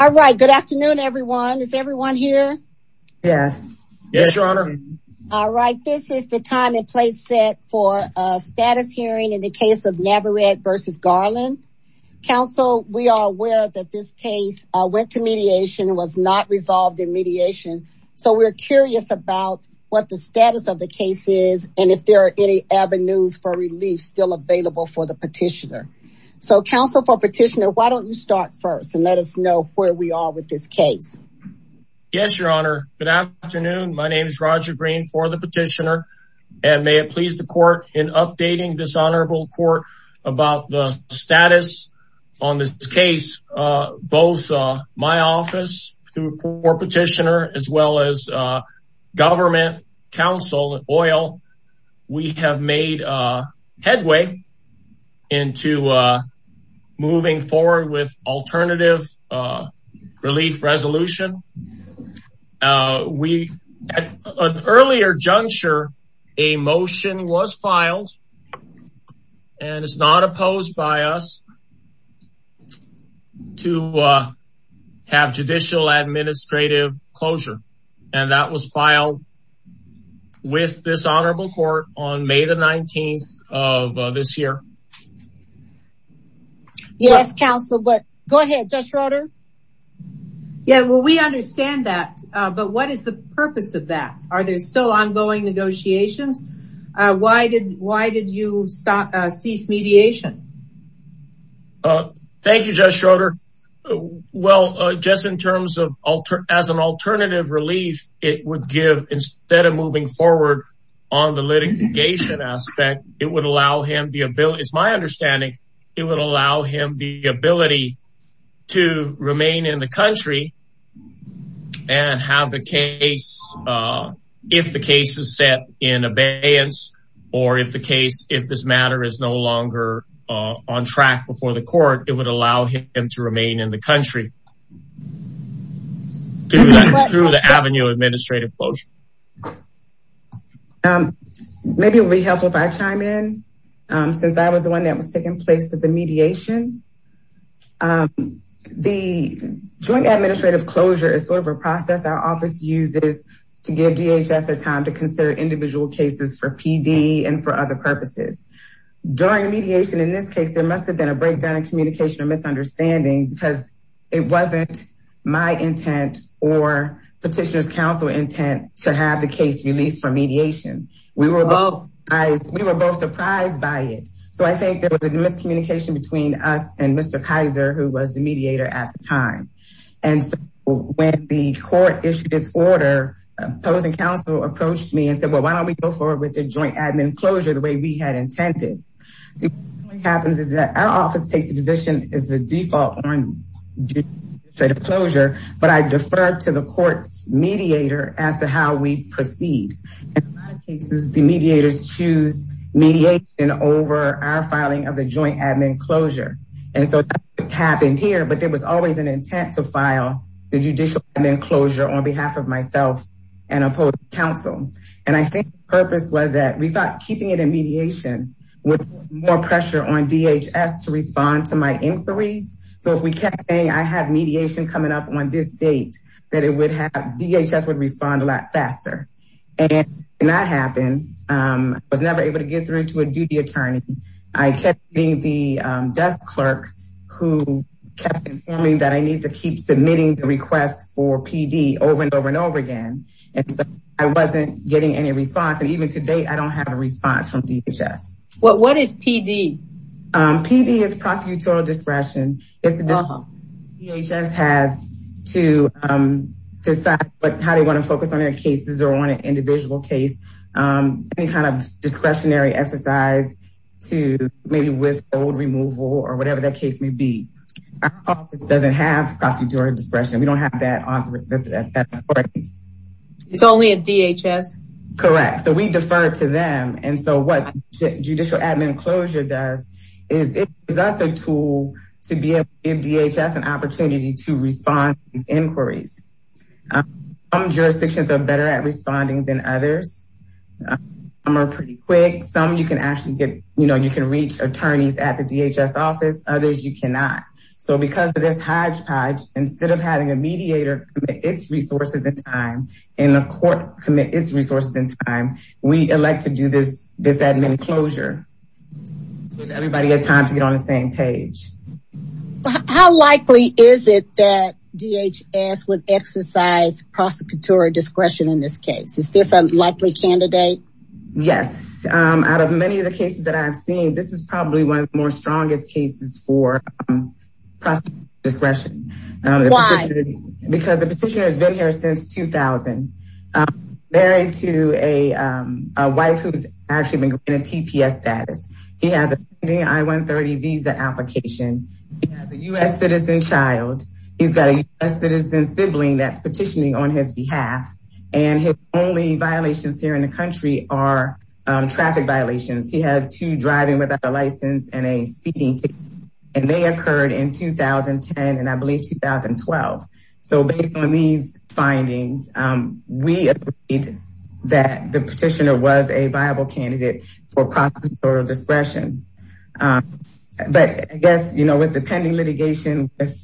All right, good afternoon everyone. Is everyone here? Yes. Yes, your honor. All right, this is the time and place set for a status hearing in the case of Navarrete versus Garland. Council, we are aware that this case went to mediation, was not resolved in mediation, so we're curious about what the status of the case is and if there are any avenues for relief still available for the petitioner. So council for petitioner, why don't you start first and let us know where we are with this case. Yes, your honor. Good afternoon. My name is Roger Green for the petitioner and may it please the court in updating this honorable court about the status on this case. Both my office to report petitioner as well as government, council, oil, we have made a headway into moving forward with alternative relief resolution. We at an earlier juncture, a motion was filed and it's not opposed by us to have judicial administrative closure and that was filed with this honorable court on May the 19th of this year. Yes, council, but go ahead, Judge Schroeder. Yeah, well, we understand that, but what is the purpose of that? Are there still ongoing negotiations? Why did you cease mediation? Thank you, Judge Schroeder. Well, just in terms of as an alternative relief, it would give instead of moving forward on the litigation aspect, it would allow him the ability, it's my understanding, it would allow him the ability to remain in the country and have the case if the case is set in abeyance or if the case, if this matter is no longer on track before the court, it would allow him to remain in the country through the avenue administrative closure. Maybe it would be helpful if I chime in since I was the one that was taking place with the mediation. The joint administrative closure is sort of a process our office uses to give DHS a time to consider individual cases for PD and for other purposes. During mediation in this case, there must have been a breakdown in communication or misunderstanding because it wasn't my intent or petitioner's counsel intent to have the case released for mediation. We were both surprised by it. So I think there was a miscommunication between us and Mr. Kaiser, who was the mediator at the time. And so when the court issued its order, opposing counsel approached me and said, well, why don't we go forward with the joint admin closure the way we had intended? The only thing that happens is that our office takes a position as the default on closure, but I defer to the court's mediator as to how we proceed. In a lot of cases, the mediators choose mediation over our filing of the joint admin closure. And so that's what happened here, but there was always an intent to file the judicial admin closure on behalf of myself and opposing counsel. And I think the purpose was that we thought keeping it in mediation would put more pressure on DHS to respond to my inquiries. So if we kept saying I had mediation coming up on this date, that it would have DHS would respond a lot faster. And that happened. I was never able to get through to a duty attorney. I kept being the desk clerk who kept informing that I need to keep submitting the request for PD over and over and over again. And so I wasn't getting any response. And even today, I don't have a response from DHS. What is PD? PD is prosecutorial discretion. It's the DHS has to decide how they want to focus on their cases or on an individual case, any kind of discretionary exercise to maybe withhold removal or whatever that case may be. Our office doesn't have prosecutorial discretion, we don't have that. It's only a DHS. Correct. So we defer to them. And so what judicial admin closure does is it is also a tool to be able to give DHS an opportunity to respond to these inquiries. Some jurisdictions are better at responding than others. Some are pretty quick. Some you can reach attorneys at the DHS office, others you cannot. So because of this hodgepodge, instead of having a mediator commit its resources in time, and the court commit its resources in time, we elect to do this, this admin closure. Everybody has time to get on the same page. How likely is it that DHS would exercise prosecutorial discretion in this case? Is this a likely candidate? Yes. Out of many of the cases that I've seen, this is probably one of the more strongest cases for prosecutorial discretion. Because the petitioner has been here since 2000. Married to a wife who's actually been granted TPS status. He has a pending I-130 visa application. He has a U.S. citizen child. He's got a U.S. citizen sibling that's petitioning on his behalf. And his only violations here in the country are traffic violations. He had two driving without a license and a speeding ticket. And they occurred in 2010 and I believe 2012. So based on these findings, we agreed that the petitioner was a viable candidate for prosecutorial discretion. But I guess, you know, with the pending litigation, with,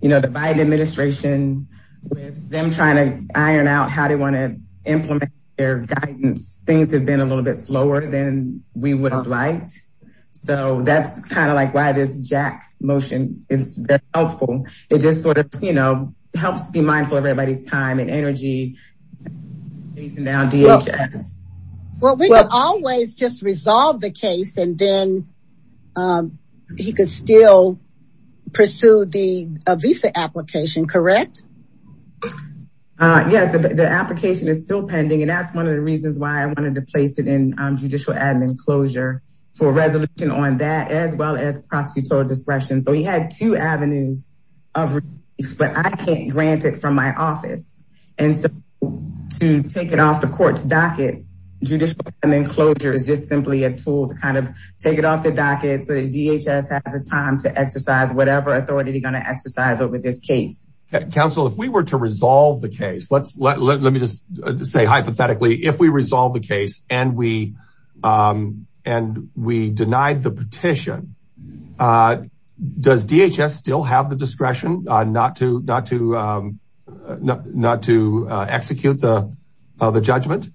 you know, the Biden administration, with them trying to iron out how they want to implement their guidance, things have been a little bit slower than we would have liked. So that's kind of like why this Jack motion is helpful. It just sort of, you know, helps be mindful of everybody's time and energy. Well, we could always just resolve the case and then he could still pursue the visa application, correct? Yes, the application is still pending. And that's one of the reasons why I wanted to place it in judicial admin closure for resolution on that, as well as prosecutorial discretion. So he had two avenues of relief, but I can't grant it from my office. And so to take it off the court's docket, judicial admin closure is just simply a tool to kind of take it off the docket so that DHS has a time to exercise whatever authority they're going to exercise over this case. Counsel, if we were to resolve the case, let me just say hypothetically, if we resolve the case and we denied the petition, does DHS still have the discretion not to execute the judgment?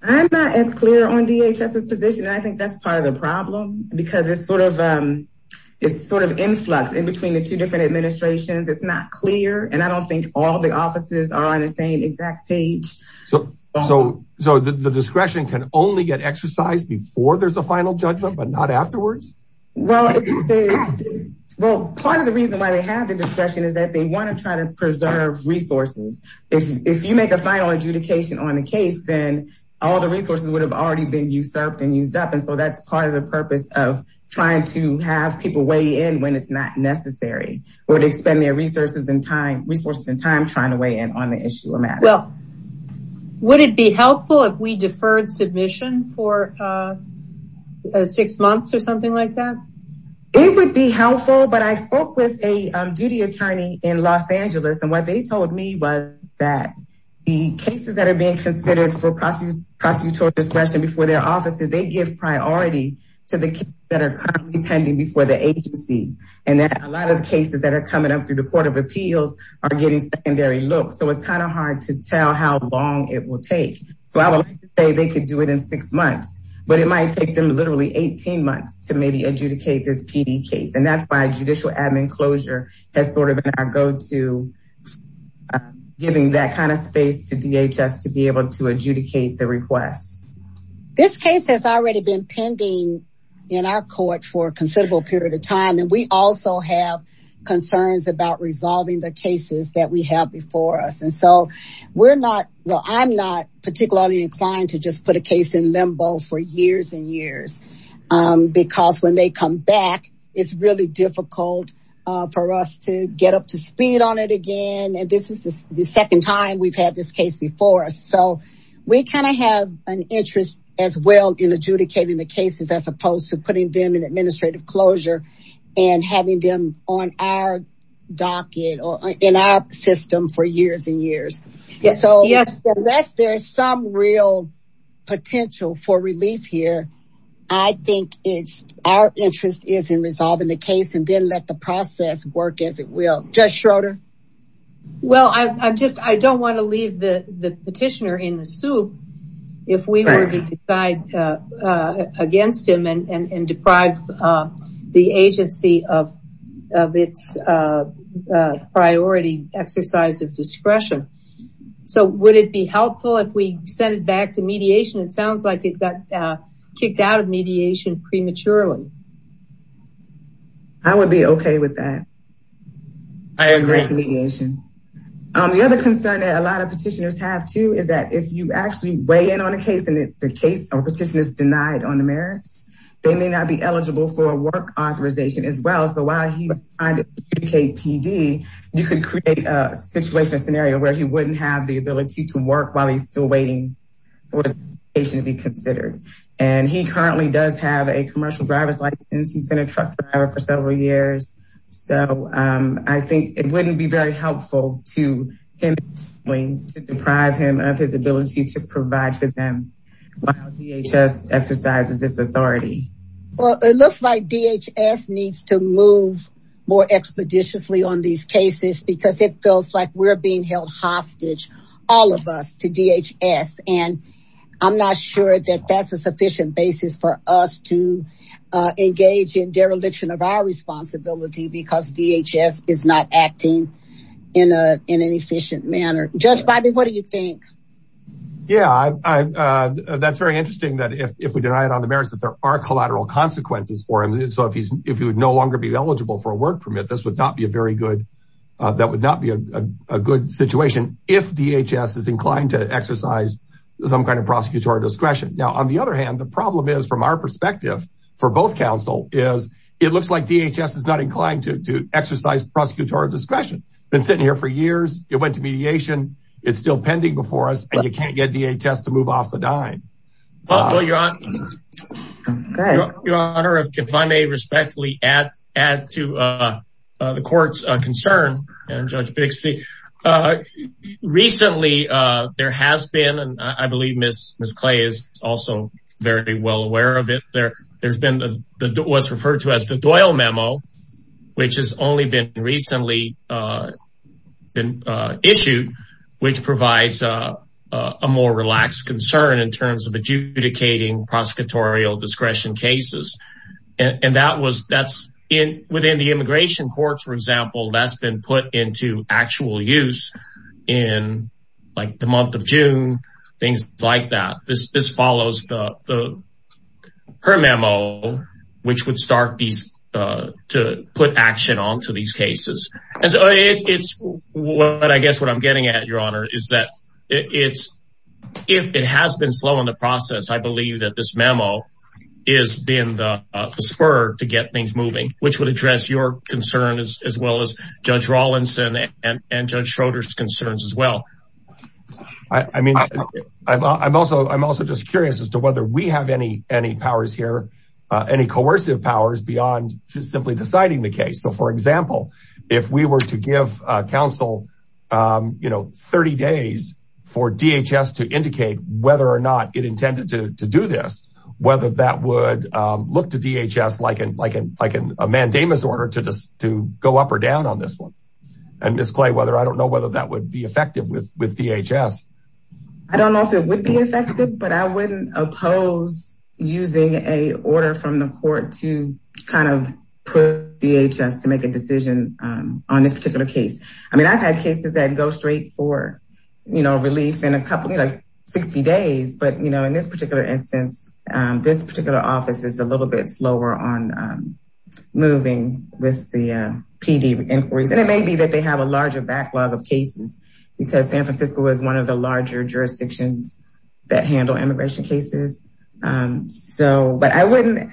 I'm not as clear on DHS's position. And I think that's part of the problem because it's sort of, it's sort of influx in between the two different administrations. It's not clear. And I don't think all the offices are on the same exact page. So, so the discretion can only get exercised before there's a final judgment, but not afterwards. Well, well, part of the reason why they have the discretion is that they want to try to preserve resources. If you make a final adjudication on the case, then all the resources would have already been usurped and used up. And so that's part of the purpose of trying to have people weigh in when it's not necessary or to expend their resources and time, resources and time trying to weigh in on the issue of matters. Well, would it be helpful if we deferred submission for six months or something like that? It would be helpful, but I spoke with a PD attorney in Los Angeles. And what they told me was that the cases that are being considered for prosecutorial discretion before their offices, they give priority to the cases that are currently pending before the agency. And that a lot of cases that are coming up through the court of appeals are getting secondary looks. So it's kind of hard to tell how long it will take. So I would say they could do it in six months, but it might take them literally 18 months to adjudicate this PD case. And that's why judicial admin closure has sort of been our go-to giving that kind of space to DHS to be able to adjudicate the request. This case has already been pending in our court for a considerable period of time. And we also have concerns about resolving the cases that we have before us. And so we're not, well, I'm not they come back, it's really difficult for us to get up to speed on it again. And this is the second time we've had this case before us. So we kind of have an interest as well in adjudicating the cases as opposed to putting them in administrative closure and having them on our docket or in our system for years and years. So there's some real potential for relief here. I think it's our interest is in resolving the case and then let the process work as it will. Judge Schroeder? Well, I just, I don't want to leave the petitioner in the soup if we were to decide against him and deprive the agency of its priority exercise of discretion. So would it be helpful if we send it back to mediation? It sounds like it got kicked out of mediation prematurely. I would be okay with that. I agree with mediation. The other concern that a lot of petitioners have too is that if you actually weigh in on a case and if the case or petition is denied on the merits, they may not be eligible for a work authorization as well. So while he's trying to adjudicate PD, you could create a situation, a scenario where he wouldn't have the ability to work while he's still waiting for his application to be considered. And he currently does have a commercial driver's license. He's been a truck driver for several years. So I think it wouldn't be very helpful to him to deprive him of his ability to provide for them while DHS exercises its authority. Well, it looks like DHS needs to move more expeditiously on these cases because it feels like we're being held hostage, all of us to DHS. And I'm not sure that that's a sufficient basis for us to engage in dereliction of our responsibility because DHS is not acting in an efficient manner. Judge Biby, what do you think? Yeah, that's very interesting that if we deny it on the merits that there are collateral consequences for him. So if he would no longer be eligible for a work permit, that would not be a good situation if DHS is inclined to exercise some kind of prosecutorial discretion. Now, on the other hand, the problem is from our perspective for both counsel is it looks like DHS is not inclined to exercise prosecutorial discretion. Been sitting here for years, it went to mediation, it's still pending before us, and you can't get DHS to move off the dime. Your Honor, if I may respectfully add to the court's concern and Judge Bixby, recently there has been, and I believe Ms. Clay is also very well aware of it, there's been what's been issued, which provides a more relaxed concern in terms of adjudicating prosecutorial discretion cases. And that's within the immigration courts, for example, that's been put into actual use in like the month of June, things like that. This follows her memo, which would start these, to put action onto these cases. And so it's what I guess what I'm getting at, Your Honor, is that it's, if it has been slow in the process, I believe that this memo is being the spur to get things moving, which would address your concern as well as Judge Rawlinson and Judge Schroeder's concerns as well. I mean, I'm also just curious as to whether we have any powers here, any coercive powers beyond just simply deciding the case. So for example, if we were to give counsel 30 days for DHS to indicate whether or not it intended to do this, whether that would look to DHS like a mandamus order to go up or down on this one. And Ms. Clay, I don't know whether that would be effective with DHS. I don't know if it would be effective, but I wouldn't oppose using a order from the court to kind of put DHS to make a decision on this particular case. I mean, I've had cases that go straight for, you know, relief in a couple, like 60 days. But you know, in this particular instance, this particular office is a little bit slower on moving with the PD inquiries. And it was one of the larger jurisdictions that handle immigration cases. So, but I wouldn't,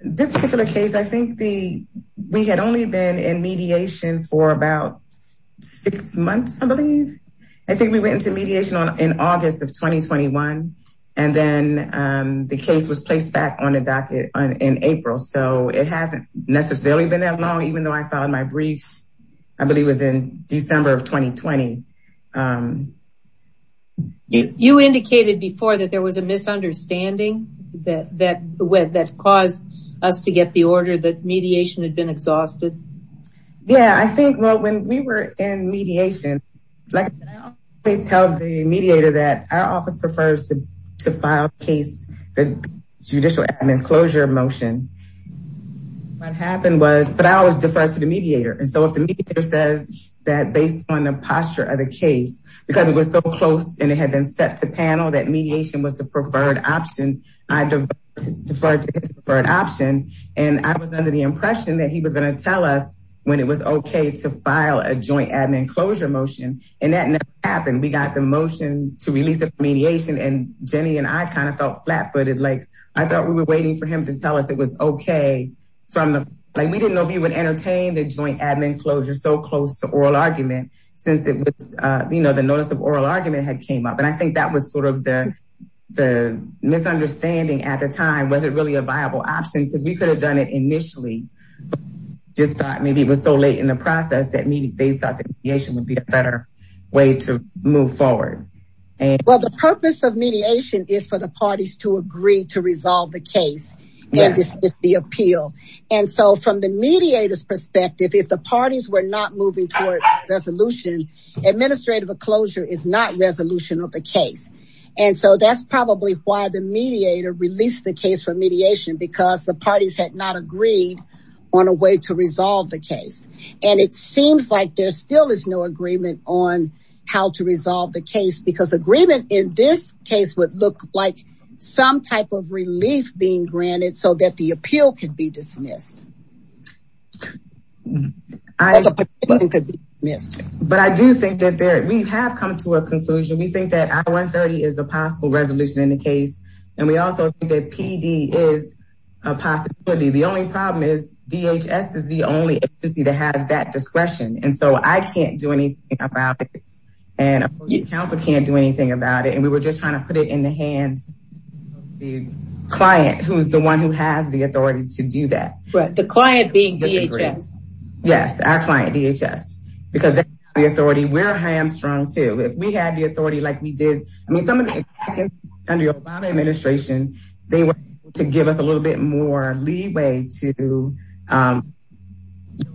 this particular case, I think the, we had only been in mediation for about six months, I believe. I think we went into mediation in August of 2021. And then the case was placed back on the docket in April. So it hasn't necessarily been that long, even though I filed my briefs, I believe it was in December of 2020. You indicated before that there was a misunderstanding that caused us to get the order that mediation had been exhausted. Yeah, I think, well, when we were in mediation, like I always tell the mediator that our office prefers to file case, the judicial admin closure motion. What happened was, but I always defer to the mediator. And so if the mediator says that based on the posture of the case, because it was so close, and it had been set to panel that mediation was a preferred option, I deferred to his preferred option. And I was under the impression that he was going to tell us when it was okay to file a joint admin closure motion. And that never happened. We got the motion to release the mediation and Jenny and I kind of flat footed, like, I thought we were waiting for him to tell us it was okay. From like, we didn't know if he would entertain the joint admin closure so close to oral argument, since it was, you know, the notice of oral argument had came up. And I think that was sort of the misunderstanding at the time, was it really a viable option, because we could have done it initially. Just thought maybe it was so late in the process that maybe they thought that mediation would be a better way to move forward. And well, the purpose of mediation is for the parties to agree to resolve the case. And this is the appeal. And so from the mediators perspective, if the parties were not moving toward resolution, administrative closure is not resolution of the case. And so that's probably why the mediator released the case for mediation, because the parties had not agreed on a way to resolve the case. And it seems like there still is no agreement on how to resolve the case, because agreement in this case would look like some type of relief being granted so that the appeal could be dismissed. But I do think that we have come to a conclusion, we think that I-130 is a possible resolution in the case. And we also think that PD is a possibility. The only problem is DHS is the agency that has that discretion. And so I can't do anything about it. And the council can't do anything about it. And we were just trying to put it in the hands of the client who's the one who has the authority to do that. But the client being DHS. Yes, our client DHS, because the authority we're hamstrung to if we had the authority like we did, I mean, some of the Obama administration, they were able to give us a little bit more leeway to go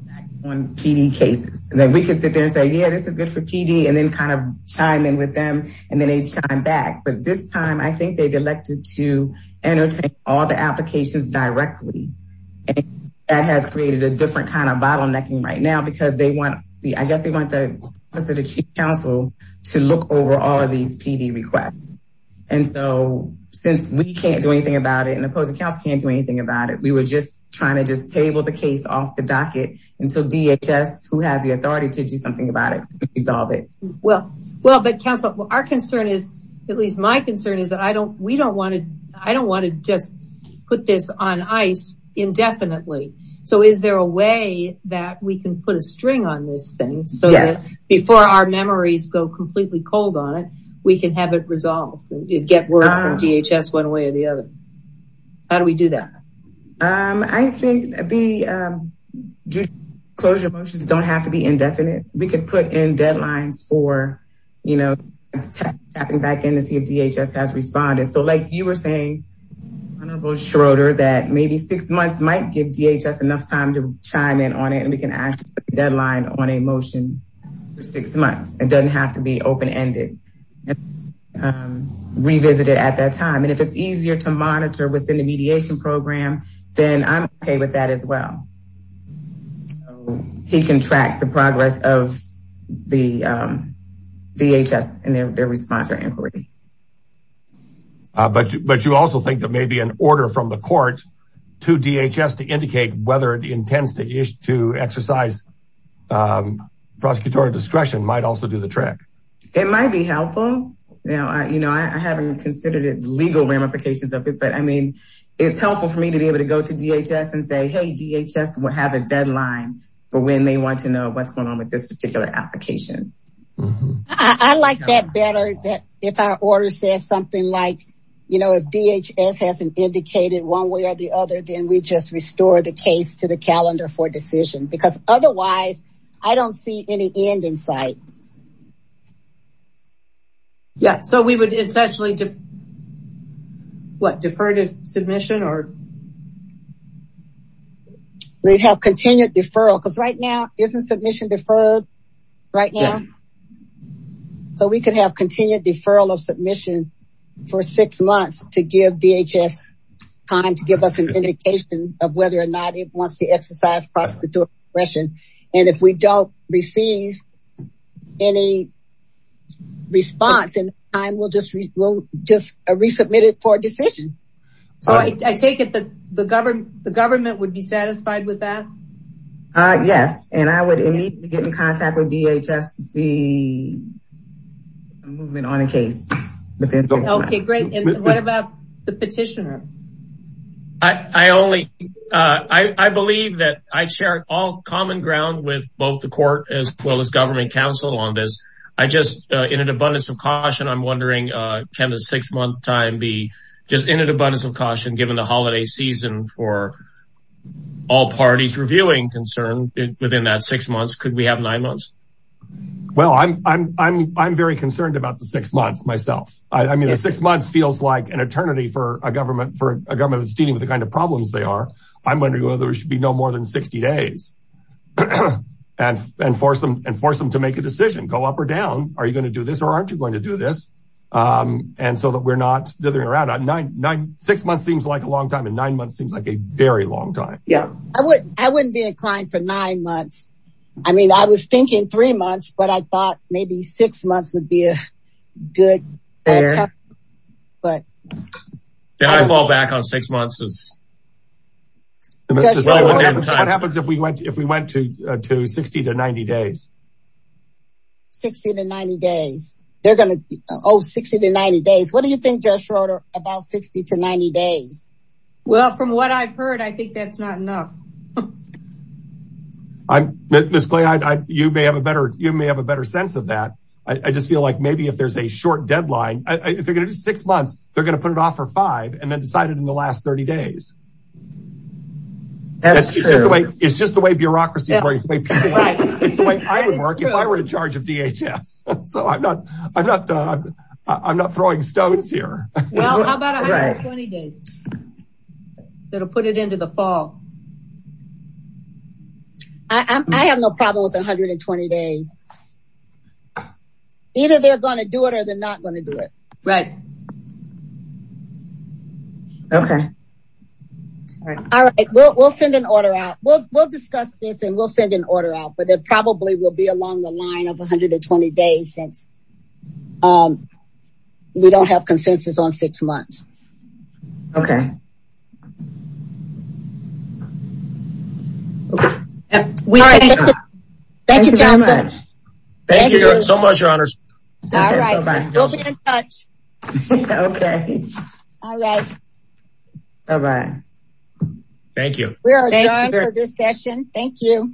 back on PD cases. And then we could sit there and say, yeah, this is good for PD and then kind of chime in with them. And then they chime back. But this time, I think they've elected to entertain all the applications directly. And that has created a different kind of bottlenecking right now, because they want, I guess they want the Office of the Chief Counsel to look over all of these PD requests. And so since we can't do anything about it, and the opposing counsel can't do anything about it, we were just trying to just table the case off the docket until DHS, who has the authority to do something about it, resolve it. Well, but counsel, our concern is, at least my concern is that I don't, we don't want to, I don't want to just put this on ice indefinitely. So is there a way that we can put a string on this thing so that before our memories go completely cold on it, we can have it resolved, get word from DHS one way or the other? How do we do that? I think the closure motions don't have to be indefinite. We could put in deadlines for, you know, tapping back in to see if DHS has responded. So like you were saying, Honorable Schroeder, that maybe six months might give DHS enough time to chime in on it. And we have to be open-ended, revisited at that time. And if it's easier to monitor within the mediation program, then I'm okay with that as well. He can track the progress of the DHS and their response or inquiry. But you also think that maybe an order from the court to DHS to indicate whether it It might be helpful. Now, you know, I haven't considered it legal ramifications of it, but I mean, it's helpful for me to be able to go to DHS and say, hey, DHS will have a deadline for when they want to know what's going on with this particular application. I like that better that if our order says something like, you know, if DHS hasn't indicated one way or the other, then we just restore the case to the calendar for decision because otherwise I don't see any end in sight. Yeah. So we would essentially defer to submission or? We'd have continued deferral because right now, isn't submission deferred right now? So we could have continued deferral of submission for six months to give DHS time to give us an indication of whether or not it wants to exercise prosecutorial discretion. And if we don't receive any response in time, we'll just resubmit it for a decision. So I take it that the government would be satisfied with that? Yes. And I would immediately get in contact with DHS to see a movement on a case. Okay, great. And what about the petitioner? I only, I believe that I share all common ground with both the court as well as government council on this. I just in an abundance of caution, I'm wondering, can the six month time be just in an abundance of caution, given the holiday season for all parties reviewing concern within that six months, could we have nine months? Well, I'm very concerned about the government that's dealing with the kind of problems they are. I'm wondering whether there should be no more than 60 days and force them to make a decision, go up or down, are you going to do this or aren't you going to do this? And so that we're not dithering around. Six months seems like a long time and nine months seems like a very long time. Yeah, I wouldn't be inclined for nine months. I mean, I was thinking three months, but I thought maybe six months would be a good time. I fall back on six months. What happens if we went to 60 to 90 days? 60 to 90 days. They're going to, oh, 60 to 90 days. What do you think, Judge Schroeder, about 60 to 90 days? Well, from what I've heard, I think that's not enough. Ms. Clay, you may have a better sense of that. I just feel like maybe if there's a short deadline, if they're going to do six months, they're going to put it off for five and then decide it in the last 30 days. That's true. It's just the way bureaucracies work. It's the way I would work if I were in charge of DHS. So I'm not throwing stones here. Well, how about 120 days? That'll put it into the fall. I have no problem with 120 days. Either they're going to do it or they're not going to do it. Right. Okay. All right. We'll send an order out. We'll discuss this and we'll send an order out, but it probably will be along the line of 120 days since we don't have consensus on six months. Okay. Thank you so much, your honors. Okay. All right. All right. Thank you. We are adjourned for this session. Thank you.